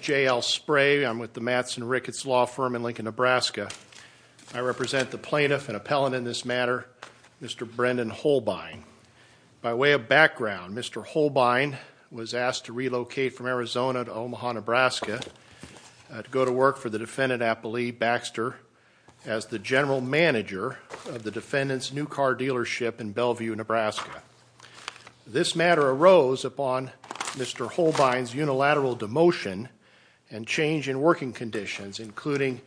J.L. Spray, Matson Ricketts Law Firm, Lincoln, Nebraska I represent the plaintiff and appellant in this matter, Mr. Brendan Holbein. By way of background, Mr. Holbein was asked to relocate from Arizona to Omaha, Nebraska to go to work for the defendant, Apple Lee Baxter, as the general manager of the defendant's new car dealership in Bellevue, Nebraska. This matter arose upon Mr. Holbein's unilateral demotion and change in working conditions including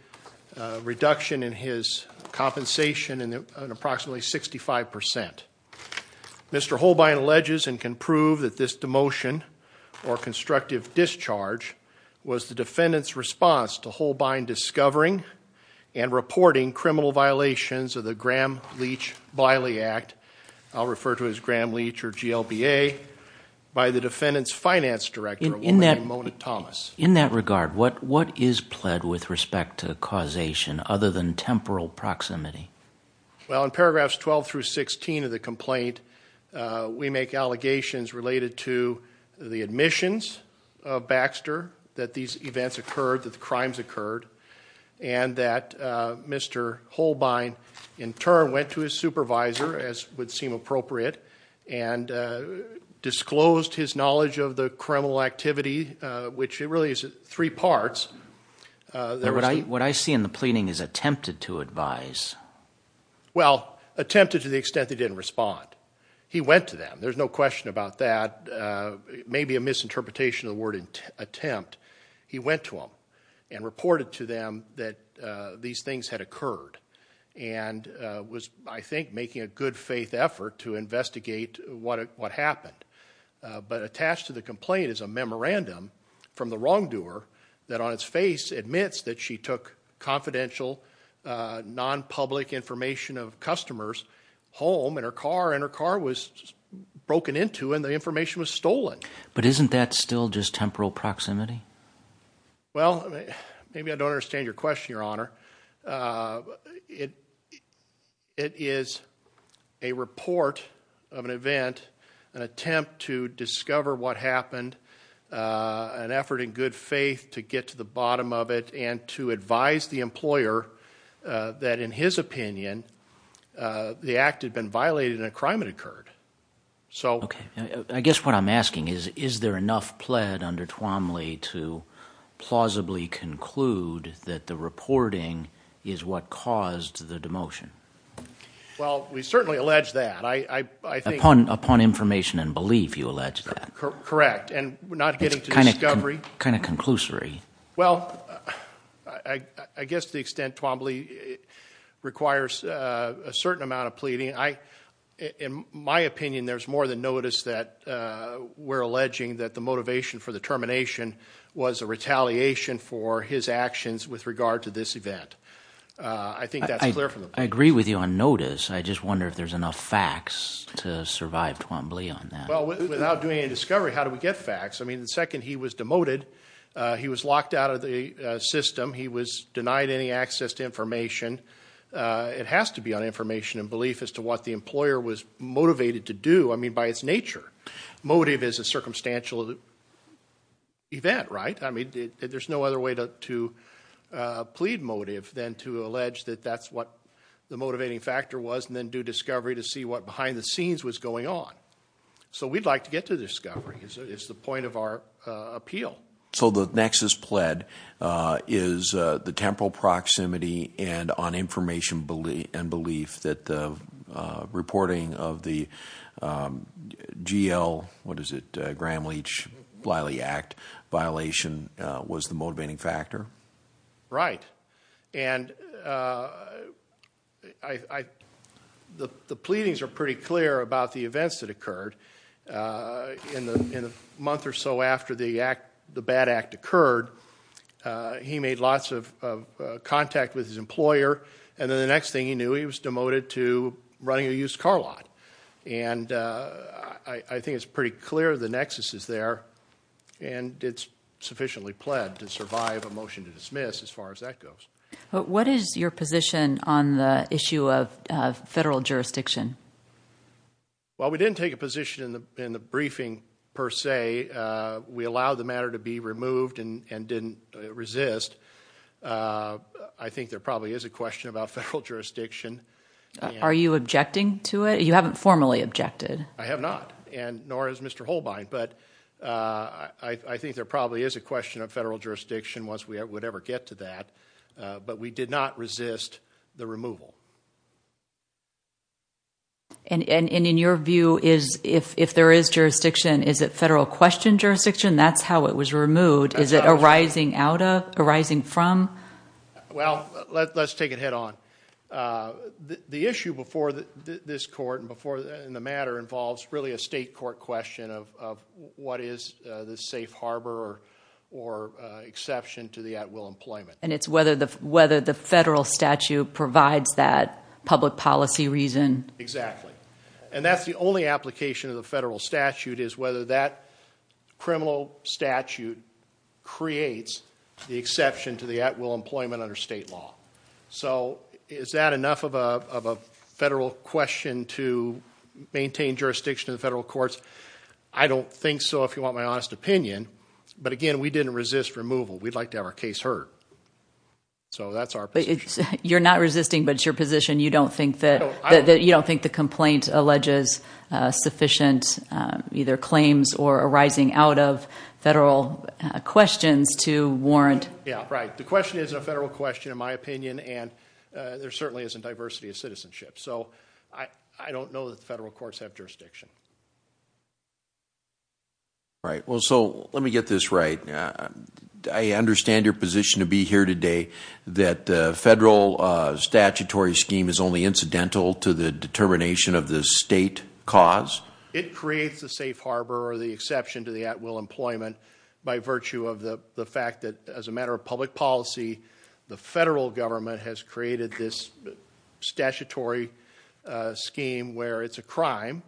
a reduction in his compensation in approximately 65 percent. Mr. Holbein alleges and can prove that this demotion or constructive discharge was the defendant's response to Holbein discovering and reporting criminal violations of the Graham Leach Blyle Act, I'll refer to it as Graham Leach or GLBA, by the defendant's finance director, William Monick Thomas. In that regard, what is pled with respect to causation other than temporal proximity? Well, in paragraphs 12 through 16 of the complaint, we make allegations related to the admissions of Baxter that these events occurred, that the crimes occurred, and that Mr. Holbein in turn went to his supervisor, as would seem appropriate, and disclosed his knowledge of the criminal activity, which really is three parts. What I see in the pleading is attempted to advise. Well, attempted to the extent that he didn't respond. He went to them. There's no question about that. Maybe a misinterpretation of the word attempt. He went to them and reported to them that these things had occurred and was, I think, making a good faith effort to investigate what happened. But attached to the complaint is a memorandum from the wrongdoer that on its face admits that she took confidential, non-public information of customers' home and her car, and her car was broken into and the information was stolen. But isn't that still just temporal proximity? Well, maybe I don't understand your question, Your Honor. It is a report of an event, an attempt to discover what happened, an effort in good faith to get to the bottom of it, and to advise the employer that in his opinion the act had been violated and a crime had occurred. I guess what I'm asking is, is there enough pled under Twomley to plausibly conclude that the reporting is what caused the demotion? Well, we certainly allege that. Upon information and belief, you allege that. Correct. And not getting to discovery. It's kind of conclusory. Well, I guess to the extent Twomley requires a certain amount of pleading, in my opinion there's more than notice that we're alleging that the motivation for the termination was a retaliation for his actions with regard to this event. I think that's clear from the- I agree with you on notice, I just wonder if there's enough facts to survive Twomley on that. Well, without doing any discovery, how do we get facts? I mean, the second he was demoted, he was locked out of the system, he was denied any access to information. It has to be on information and belief as to what the employer was motivated to do, I mean, by its nature. Motive is a circumstantial event, right? There's no other way to plead motive than to allege that that's what the motivating factor was, and then do discovery to see what behind the scenes was going on. So we'd like to get to discovery, is the point of our appeal. So the nexus pled is the temporal proximity and on information and belief that the reporting of the GL, what is it, Graham-Leach-Bliley Act violation was the motivating factor? Right, and the pleadings are pretty clear about the events that occurred in the month or so after the bad act occurred. He made lots of contact with his employer, and then the next thing he knew, he was demoted to running a used car lot. And I think it's pretty clear the nexus is there, and it's sufficiently pled to survive a motion to dismiss as far as that goes. What is your position on the issue of federal jurisdiction? Well we didn't take a position in the briefing per se. We allowed the matter to be removed and didn't resist. I think there probably is a question about federal jurisdiction. Are you objecting to it? You haven't formally objected. I have not, nor has Mr. Holbein, but I think there probably is a question of federal jurisdiction once we would ever get to that, but we did not resist the removal. And in your view, if there is jurisdiction, is it federal question jurisdiction? That's how it was removed. Is it arising out of, arising from? Well, let's take it head on. The issue before this court and before the matter involves really a state court question of what is the safe harbor or exception to the at-will employment. And it's whether the federal statute provides that public policy reason. Exactly. And that's the only application of the federal statute, is whether that criminal statute creates the exception to the at-will employment under state law. So is that enough of a federal question to maintain jurisdiction in the federal courts? I don't think so if you want my honest opinion, but again, we didn't resist removal. We'd like to have our case heard. So that's our position. You're not resisting, but it's your position. You don't think that, you don't think the complaint alleges sufficient either claims or arising out of federal questions to warrant. Yeah, right. The question isn't a federal question in my opinion, and there certainly isn't diversity of citizenship. So I don't know that the federal courts have jurisdiction. Right. Well, so let me get this right. I understand your position to be here today, that the federal statutory scheme is only incidental to the determination of the state cause? It creates a safe harbor or the exception to the at-will employment by virtue of the fact that as a matter of public policy, the federal government has created this statutory scheme where it's a crime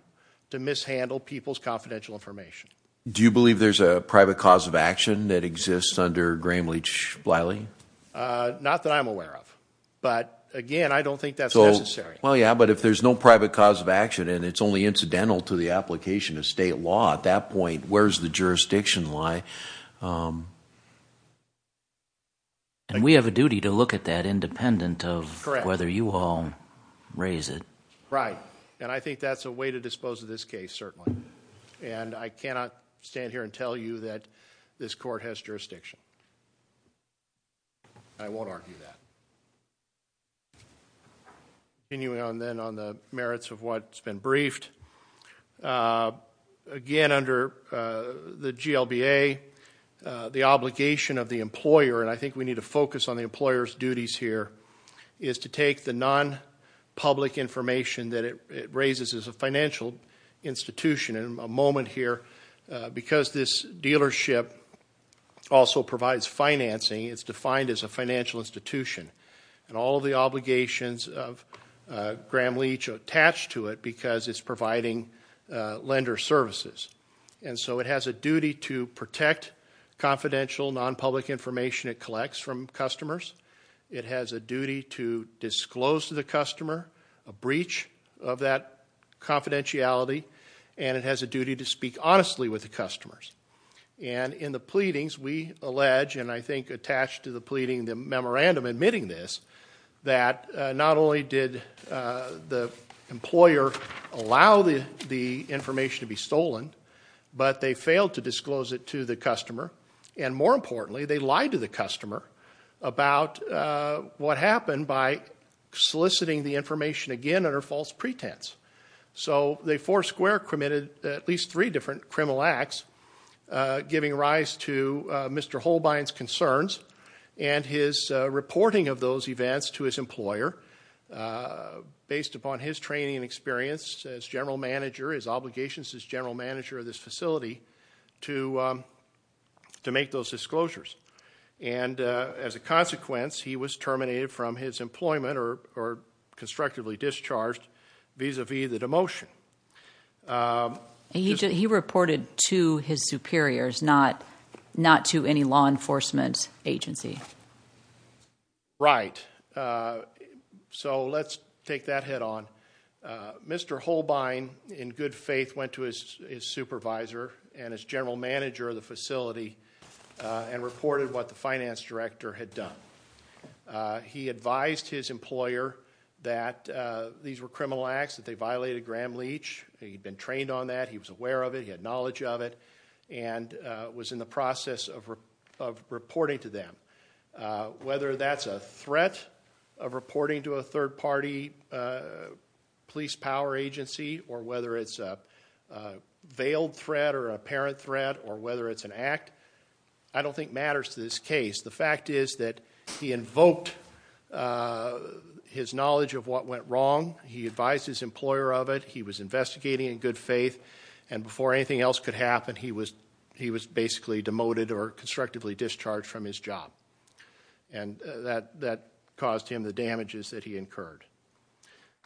to mishandle people's confidential information. Do you believe there's a private cause of action that exists under Gramlich-Bliley? Not that I'm aware of, but again, I don't think that's necessary. Well, yeah, but if there's no private cause of action and it's only incidental to the application of state law, at that point, where's the jurisdiction lie? We have a duty to look at that independent of whether you all raise it. Right. And I cannot stand here and tell you that this court has jurisdiction. I won't argue that. Continuing on then on the merits of what's been briefed, again, under the GLBA, the obligation of the employer, and I think we need to focus on the employer's duties here, is to take the non-public information that it raises as a financial institution, and a moment here, because this dealership also provides financing, it's defined as a financial institution, and all of the obligations of Gramlich are attached to it because it's providing lender services. And so it has a duty to protect confidential, non-public information it collects from customers. It has a duty to disclose to the customer a breach of that confidentiality, and it has a duty to speak honestly with the customers. And in the pleadings, we allege, and I think attached to the pleading, the memorandum admitting this, that not only did the employer allow the information to be stolen, but they failed to disclose it to the customer, and more importantly, they lied to the customer about what happened by soliciting the information again under false pretense. So they four square committed at least three different criminal acts, giving rise to Mr. Holbein's concerns and his reporting of those events to his employer, based upon his training and experience as general manager, his obligations as general manager of this facility, to make those disclosures. And as a consequence, he was terminated from his employment or constructively discharged vis-a-vis the demotion. He reported to his superiors, not to any law enforcement agency. Right. So, let's take that head on. Mr. Holbein, in good faith, went to his supervisor and his general manager of the facility and reported what the finance director had done. He advised his employer that these were criminal acts, that they violated Gramm-Leach, he'd been trained on that, he was aware of it, he had knowledge of it, and was in the process of reporting to them. Whether that's a threat of reporting to a third party police power agency, or whether it's a veiled threat or apparent threat, or whether it's an act, I don't think matters to this case. The fact is that he invoked his knowledge of what went wrong, he advised his employer of it, he was investigating in good faith, and before anything else could happen, he was basically demoted or constructively discharged from his job. And that caused him the damages that he incurred.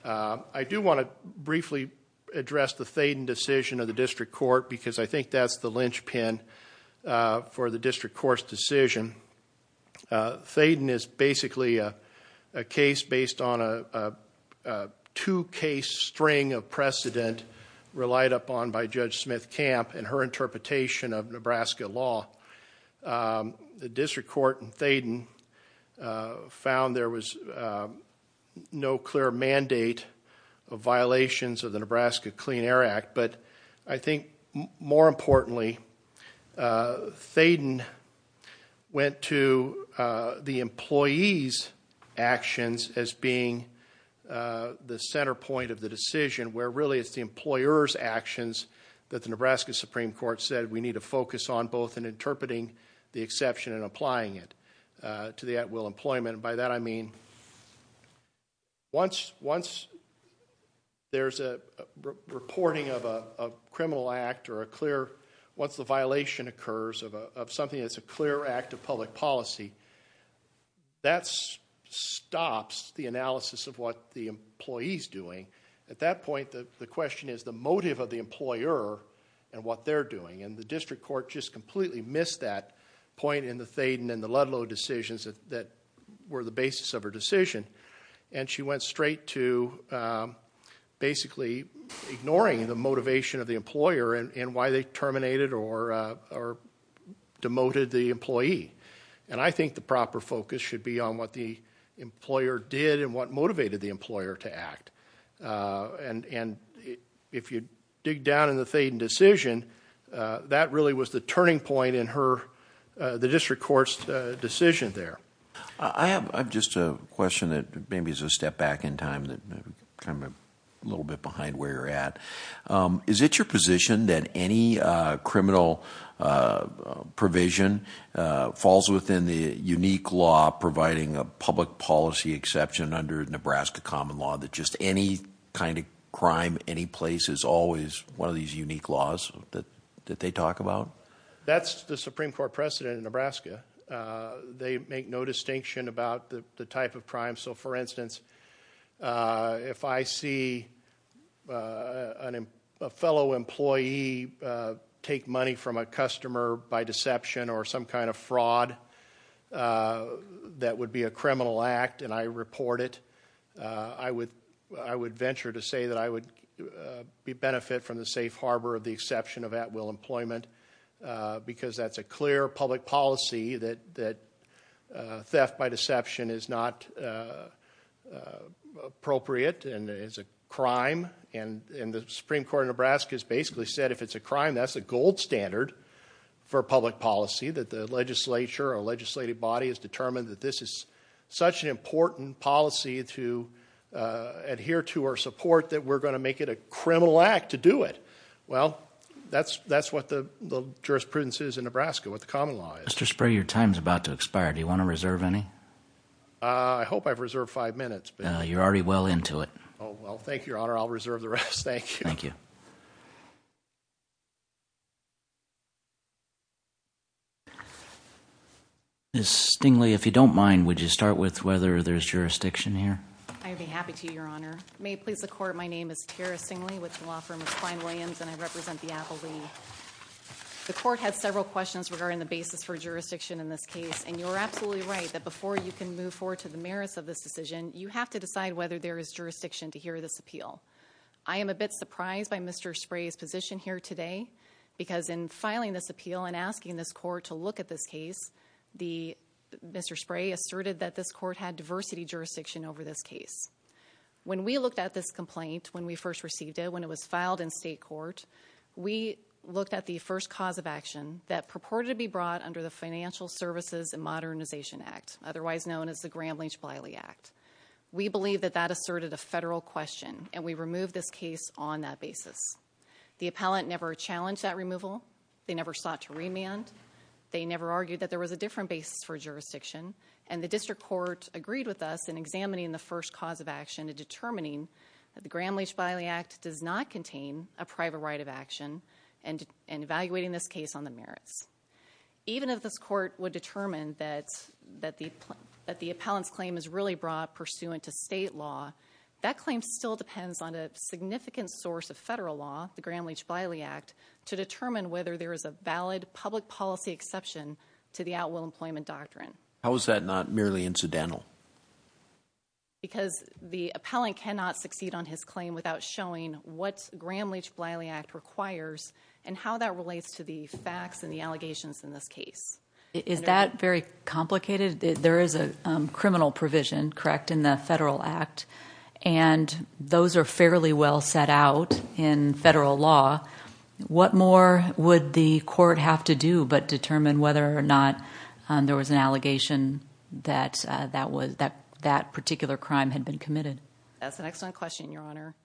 I do want to briefly address the Thayden decision of the district court, because I think that's the linchpin for the district court's decision. Thayden is basically a case based on a two-case string of precedent relied upon by Judge Smith Camp and her interpretation of Nebraska law. The district court in Thayden found there was no clear mandate of violations of the Nebraska Clean Air Act, but I think more importantly, Thayden went to the employee's actions as being the center point of the decision, where really it's the employer's actions that the Nebraska Supreme Court said we need to focus on both in interpreting the exception and applying it to the at-will employment. By that I mean, once there's a reporting of a criminal act or a clear, once the violation occurs of something that's a clear act of public policy, that stops the analysis of what the employee's doing. At that point, the question is the motive of the employer and what they're doing, and the district court just completely missed that point in the Thayden and the Ludlow decisions that were the basis of her decision, and she went straight to basically ignoring the motivation of the employer and why they terminated or demoted the employee. And I think the proper focus should be on what the employer did and what motivated the decision, and if you dig down in the Thayden decision, that really was the turning point in the district court's decision there. I have just a question that maybe is a step back in time, kind of a little bit behind where you're at. Is it your position that any criminal provision falls within the unique law providing a public policy exception under Nebraska common law, that just any kind of crime, any place is always one of these unique laws that they talk about? That's the Supreme Court precedent in Nebraska. They make no distinction about the type of crime, so for instance, if I see a fellow employee take money from a customer by deception or some kind of fraud that would be a criminal act and I report it, I would venture to say that I would benefit from the safe harbor of the exception of at-will employment because that's a clear public policy that theft by deception is not appropriate and is a crime, and the Supreme Court of Nebraska has basically said if it's a crime, that's a gold standard for public policy, that the legislature or such an important policy to adhere to or support that we're going to make it a criminal act to do it. Well, that's what the jurisprudence is in Nebraska, what the common law is. Mr. Sprague, your time is about to expire. Do you want to reserve any? I hope I've reserved five minutes. You're already well into it. Oh, well, thank you, Your Honor. I'll reserve the rest. Thank you. Thank you. Ms. Stingly, if you don't mind, would you start with whether there's jurisdiction here? I'd be happy to, Your Honor. May it please the court, my name is Tara Stingly with the law firm of Klein Williams and I represent the Appellee. The court has several questions regarding the basis for jurisdiction in this case and you're absolutely right that before you can move forward to the merits of this decision, you have to decide whether there is jurisdiction to hear this appeal. I am a bit surprised by Mr. Sprague's position here today because in filing this appeal and asking this court to look at this case, Mr. Sprague asserted that this court had diversity jurisdiction over this case. When we looked at this complaint when we first received it, when it was filed in state court, we looked at the first cause of action that purported to be brought under the Financial Services and Modernization Act, otherwise known as the Gramm-Lynch-Bliley Act. We believe that that asserted a federal question and we removed this case on that basis. The appellant never challenged that removal, they never sought to remand, they never argued that there was a different basis for jurisdiction, and the district court agreed with us in examining the first cause of action and determining that the Gramm-Lynch-Bliley Act does not contain a private right of action and evaluating this case on the merits. Even if this court would determine that the appellant's claim is really brought pursuant to state law, that claim still depends on a significant source of federal law, the Gramm-Lynch-Bliley Act, to determine whether there is a valid public policy exception to the outwill employment doctrine. How is that not merely incidental? Because the appellant cannot succeed on his claim without showing what Gramm-Lynch-Bliley Act requires and how that relates to the facts and the allegations in this case. Is that very complicated? There is a criminal provision, correct, in the federal act, and those are fairly well set out in federal law. What more would the court have to do but determine whether or not there was an allegation that that particular crime had been committed? That's an excellent question, Your Honor.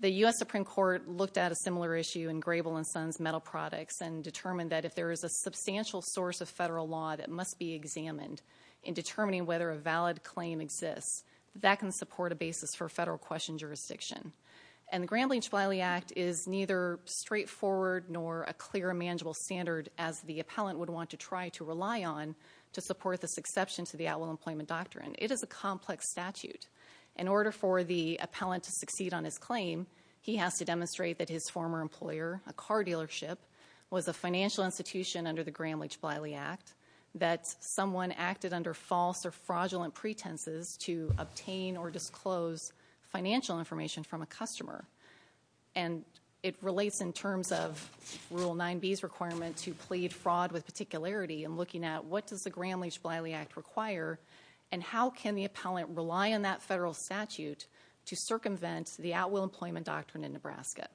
The U.S. Supreme Court looked at a similar issue in Grable and Sons Metal Products and determined that if there is a substantial source of federal law that must be examined in determining whether a valid claim exists, that can support a basis for federal question jurisdiction. The Gramm-Lynch-Bliley Act is neither straightforward nor a clear, manageable standard as the appellant would want to try to rely on to support this exception to the outwill employment doctrine. It is a complex statute. In order for the appellant to succeed on his claim, he has to demonstrate that his former employer, a car dealership, was a financial institution under the Gramm-Lynch-Bliley Act, that someone acted under false or fraudulent pretenses to obtain or disclose financial information from a customer. It relates in terms of Rule 9B's requirement to plead fraud with particularity in looking at what does the Gramm-Lynch-Bliley Act require and how can the appellant rely on that federal statute to circumvent the outwill employment doctrine in Nebraska.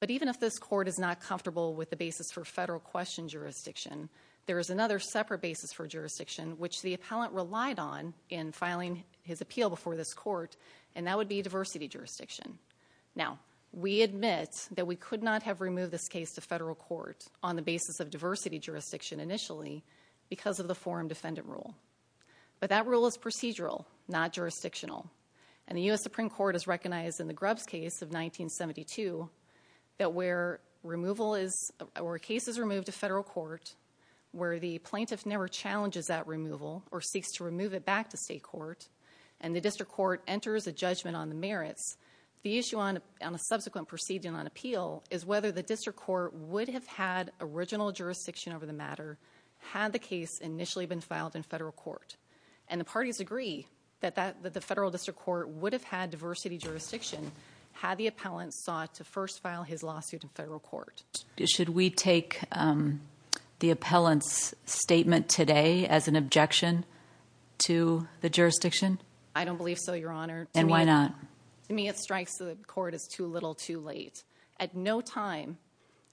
But even if this Court is not comfortable with the basis for federal question jurisdiction, there is another separate basis for jurisdiction, which the appellant relied on in filing his appeal before this Court, and that would be diversity jurisdiction. Now, we admit that we could not have removed this case to federal court on the basis of the forum defendant rule, but that rule is procedural, not jurisdictional, and the U.S. Supreme Court has recognized in the Grubbs case of 1972 that where cases are removed to federal court, where the plaintiff never challenges that removal or seeks to remove it back to state court, and the district court enters a judgment on the merits, the issue on a subsequent proceeding on appeal is whether the district court would have had original jurisdiction over the matter had the case initially been filed in federal court. And the parties agree that the federal district court would have had diversity jurisdiction had the appellant sought to first file his lawsuit in federal court. Should we take the appellant's statement today as an objection to the jurisdiction? I don't believe so, Your Honor. And why not? To me, it strikes the Court as too little too late. At no time,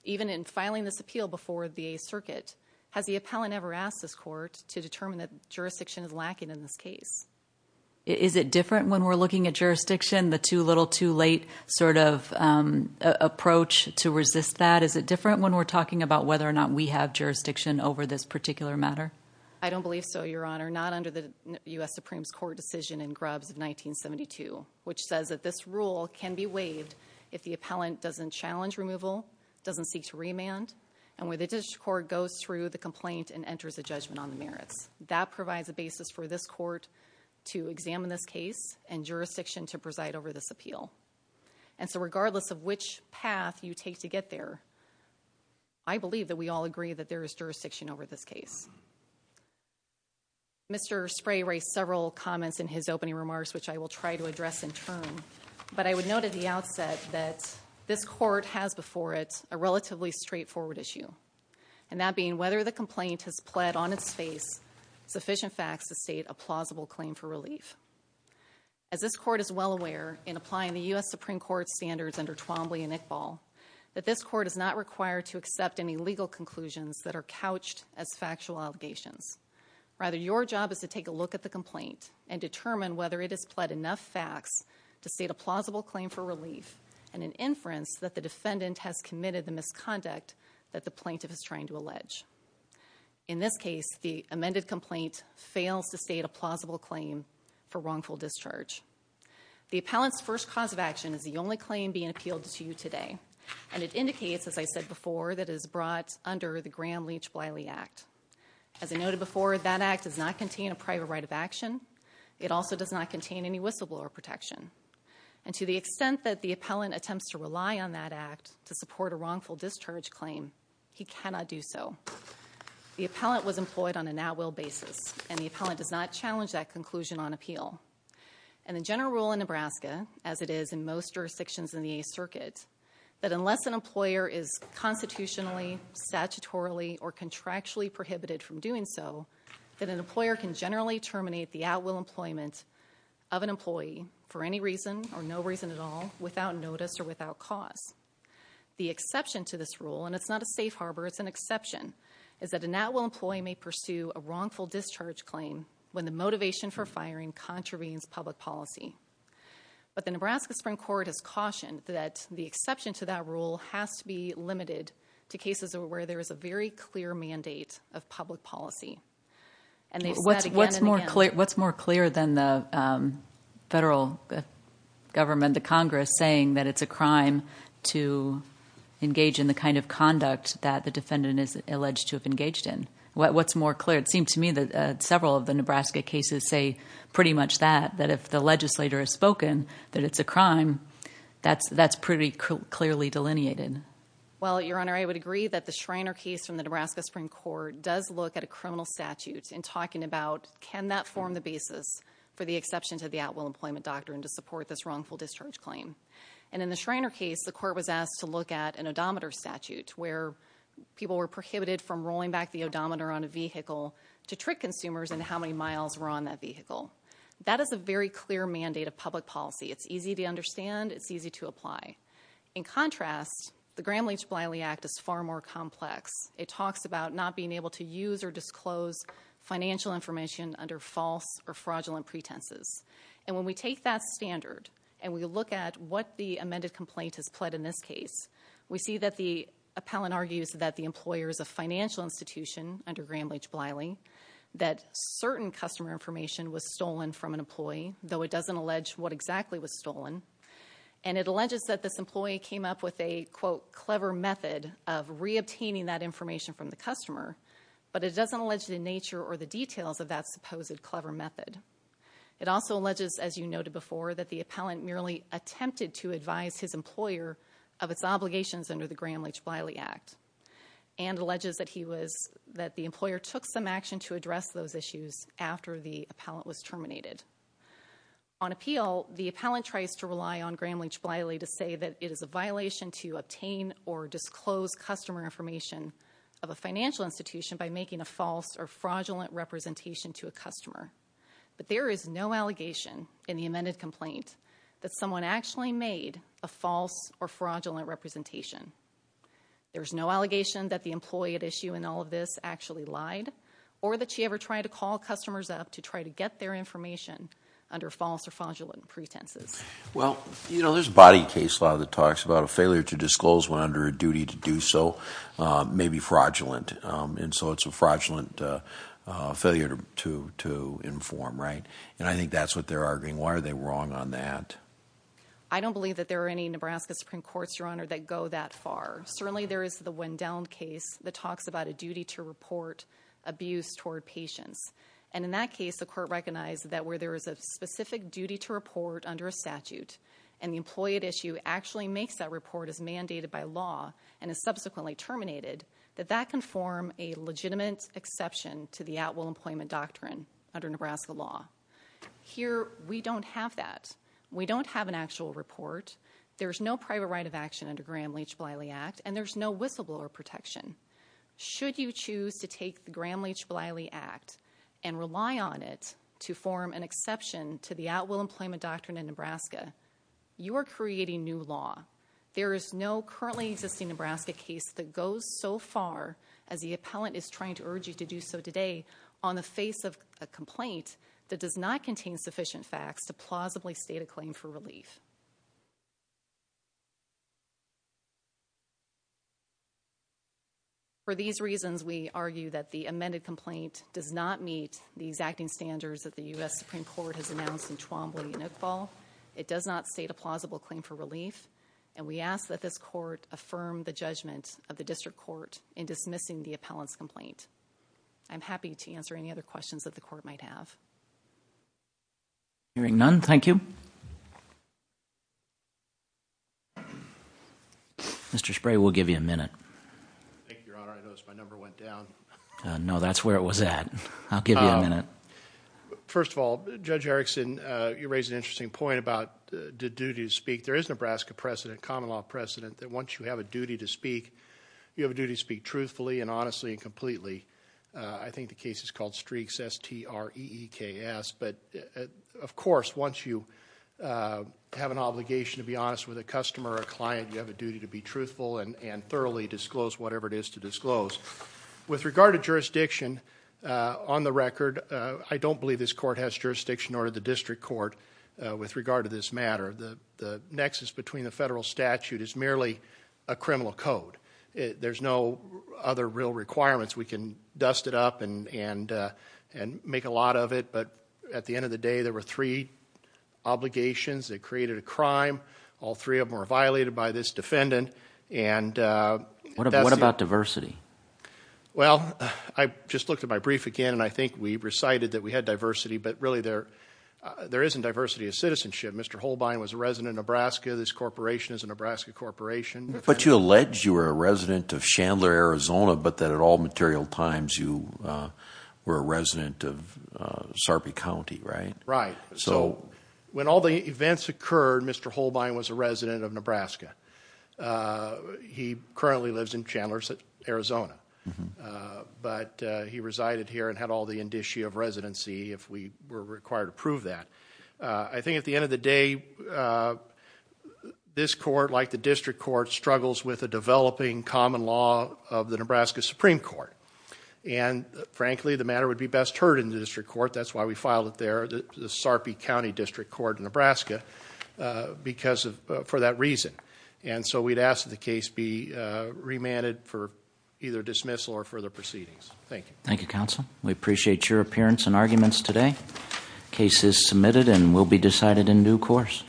even in filing this appeal before the circuit, has the appellant ever asked this court to determine that jurisdiction is lacking in this case? Is it different when we're looking at jurisdiction, the too little too late sort of approach to resist that? Is it different when we're talking about whether or not we have jurisdiction over this particular matter? I don't believe so, Your Honor. Not under the U.S. Supreme Court decision in Grubbs of 1972, which says that this rule can be waived if the appellant doesn't challenge removal, doesn't seek to remand, and where the district court goes through the complaint and enters a judgment on the merits. That provides a basis for this court to examine this case and jurisdiction to preside over this appeal. And so regardless of which path you take to get there, I believe that we all agree that there is jurisdiction over this case. Mr. Spray raised several comments in his opening remarks, which I will try to address in turn. But I would note at the outset that this court has before it a relatively straightforward issue, and that being whether the complaint has pled on its face sufficient facts to state a plausible claim for relief. As this court is well aware in applying the U.S. Supreme Court standards under Twombly and Iqbal, that this court is not required to accept any legal conclusions that are couched as factual allegations. Rather, your job is to take a look at the complaint and determine whether it has pled enough facts to state a plausible claim for relief and an inference that the defendant has committed the misconduct that the plaintiff is trying to allege. In this case, the amended complaint fails to state a plausible claim for wrongful discharge. The appellant's first cause of action is the only claim being appealed to you today, and it indicates, as I said before, that it is brought under the Graham-Leach-Bliley Act. As I noted before, that act does not contain a private right of action. It also does not contain any whistleblower protection. And to the extent that the appellant attempts to rely on that act to support a wrongful discharge claim, he cannot do so. The appellant was employed on a now-will basis, and the appellant does not challenge that conclusion on appeal. And the general rule in Nebraska, as it is in most jurisdictions in the Eighth Circuit, that unless an employer is constitutionally, statutorily, or contractually prohibited from doing so, that an employer can generally terminate the at-will employment of an employee for any reason, or no reason at all, without notice or without cause. The exception to this rule, and it's not a safe harbor, it's an exception, is that an at-will employee may pursue a wrongful discharge claim when the motivation for firing contravenes public policy. But the Nebraska Supreme Court has cautioned that the exception to that rule has to be What's more clear than the federal government, the Congress, saying that it's a crime to engage in the kind of conduct that the defendant is alleged to have engaged in? What's more clear? It seems to me that several of the Nebraska cases say pretty much that, that if the legislator has spoken that it's a crime, that's pretty clearly delineated. Well, Your Honor, I would agree that the Schreiner case from the Nebraska Supreme Court does look at a criminal statute in talking about, can that form the basis for the exception to the at-will employment doctrine to support this wrongful discharge claim? And in the Schreiner case, the court was asked to look at an odometer statute, where people were prohibited from rolling back the odometer on a vehicle to trick consumers into how many miles were on that vehicle. That is a very clear mandate of public policy. It's easy to understand. It's easy to apply. In contrast, the Gramm-Leach-Bliley Act is far more complex. It talks about not being able to use or disclose financial information under false or fraudulent pretenses. And when we take that standard and we look at what the amended complaint has pled in this case, we see that the appellant argues that the employer is a financial institution under Gramm-Leach-Bliley, that certain customer information was stolen from an employee, though it doesn't allege what exactly was stolen, and it alleges that this employee came up with a, quote, clever method of reobtaining that information from the customer, but it doesn't allege the nature or the details of that supposed clever method. It also alleges, as you noted before, that the appellant merely attempted to advise his employer of its obligations under the Gramm-Leach-Bliley Act, and alleges that he was, that the employer took some action to address those issues after the appellant was terminated. On appeal, the appellant tries to rely on Gramm-Leach-Bliley to say that it is a violation to obtain or disclose customer information of a financial institution by making a false or fraudulent representation to a customer, but there is no allegation in the amended complaint that someone actually made a false or fraudulent representation. There's no allegation that the employee at issue in all of this actually lied, or that she ever tried to call customers up to try to get their information under false or fraudulent pretenses. Well, you know, there's a body case law that talks about a failure to disclose one under a duty to do so may be fraudulent, and so it's a fraudulent failure to inform, right? And I think that's what they're arguing. Why are they wrong on that? I don't believe that there are any Nebraska Supreme Courts, Your Honor, that go that far. Certainly there is the Wendown case that talks about a duty to report abuse toward patients. And in that case, the court recognized that where there is a specific duty to report under a statute, and the employee at issue actually makes that report as mandated by law and is subsequently terminated, that that can form a legitimate exception to the at-will employment doctrine under Nebraska law. Here, we don't have that. We don't have an actual report. There's no private right of action under Graham-Leach-Bliley Act, and there's no whistleblower protection. Should you choose to take the Graham-Leach-Bliley Act and rely on it to form an exception to the at-will employment doctrine in Nebraska, you are creating new law. There is no currently existing Nebraska case that goes so far as the appellant is trying to urge you to do so today on the face of a complaint that does not contain sufficient facts to plausibly state a claim for relief. For these reasons, we argue that the amended complaint does not meet the exacting standards that the U.S. Supreme Court has announced in Twombly and Iqbal. It does not state a plausible claim for relief, and we ask that this court affirm the judgment of the district court in dismissing the appellant's complaint. I'm happy to answer any other questions that the court might have. Hearing none, thank you. Mr. Spray, we'll give you a minute. Thank you, Your Honor. I noticed my number went down. No, that's where it was at. I'll give you a minute. First of all, Judge Erickson, you raise an interesting point about the duty to speak. There is a Nebraska precedent, common law precedent, that once you have a duty to speak, you have a duty to speak truthfully and honestly and completely. I think the case is called Streaks, S-T-R-E-E-K-S. But, of course, once you have an obligation to be honest with a customer or a client, you have a duty to be truthful and thoroughly disclose whatever it is to disclose. With regard to jurisdiction, on the record, I don't believe this court has jurisdiction nor did the district court with regard to this matter. The nexus between the federal statute is merely a criminal code. There's no other real requirements. We can dust it up and make a lot of it, but at the end of the day, there were three obligations that created a crime. All three of them were violated by this defendant. What about diversity? Well, I just looked at my brief again, and I think we recited that we had diversity, but really there isn't diversity of citizenship. Mr. Holbein was a resident of Nebraska. This corporation is a Nebraska corporation. But you allege you were a resident of Chandler, Arizona, but that at all material times you were a resident of Sarpy County, right? Right. So when all the events occurred, Mr. Holbein was a resident of Nebraska. He currently lives in Chandler, Arizona, but he resided here and had all the indicia of residency if we were required to prove that. I think at the end of the day, this court, like the district court, struggles with a developing common law of the Nebraska Supreme Court. And frankly, the matter would be best heard in the district court. That's why we filed it there, the Sarpy County District Court in Nebraska, for that reason. And so we'd ask that the case be remanded for either dismissal or further proceedings. Thank you. Thank you, counsel. We appreciate your appearance and arguments today. The case is submitted and will be decided in due course.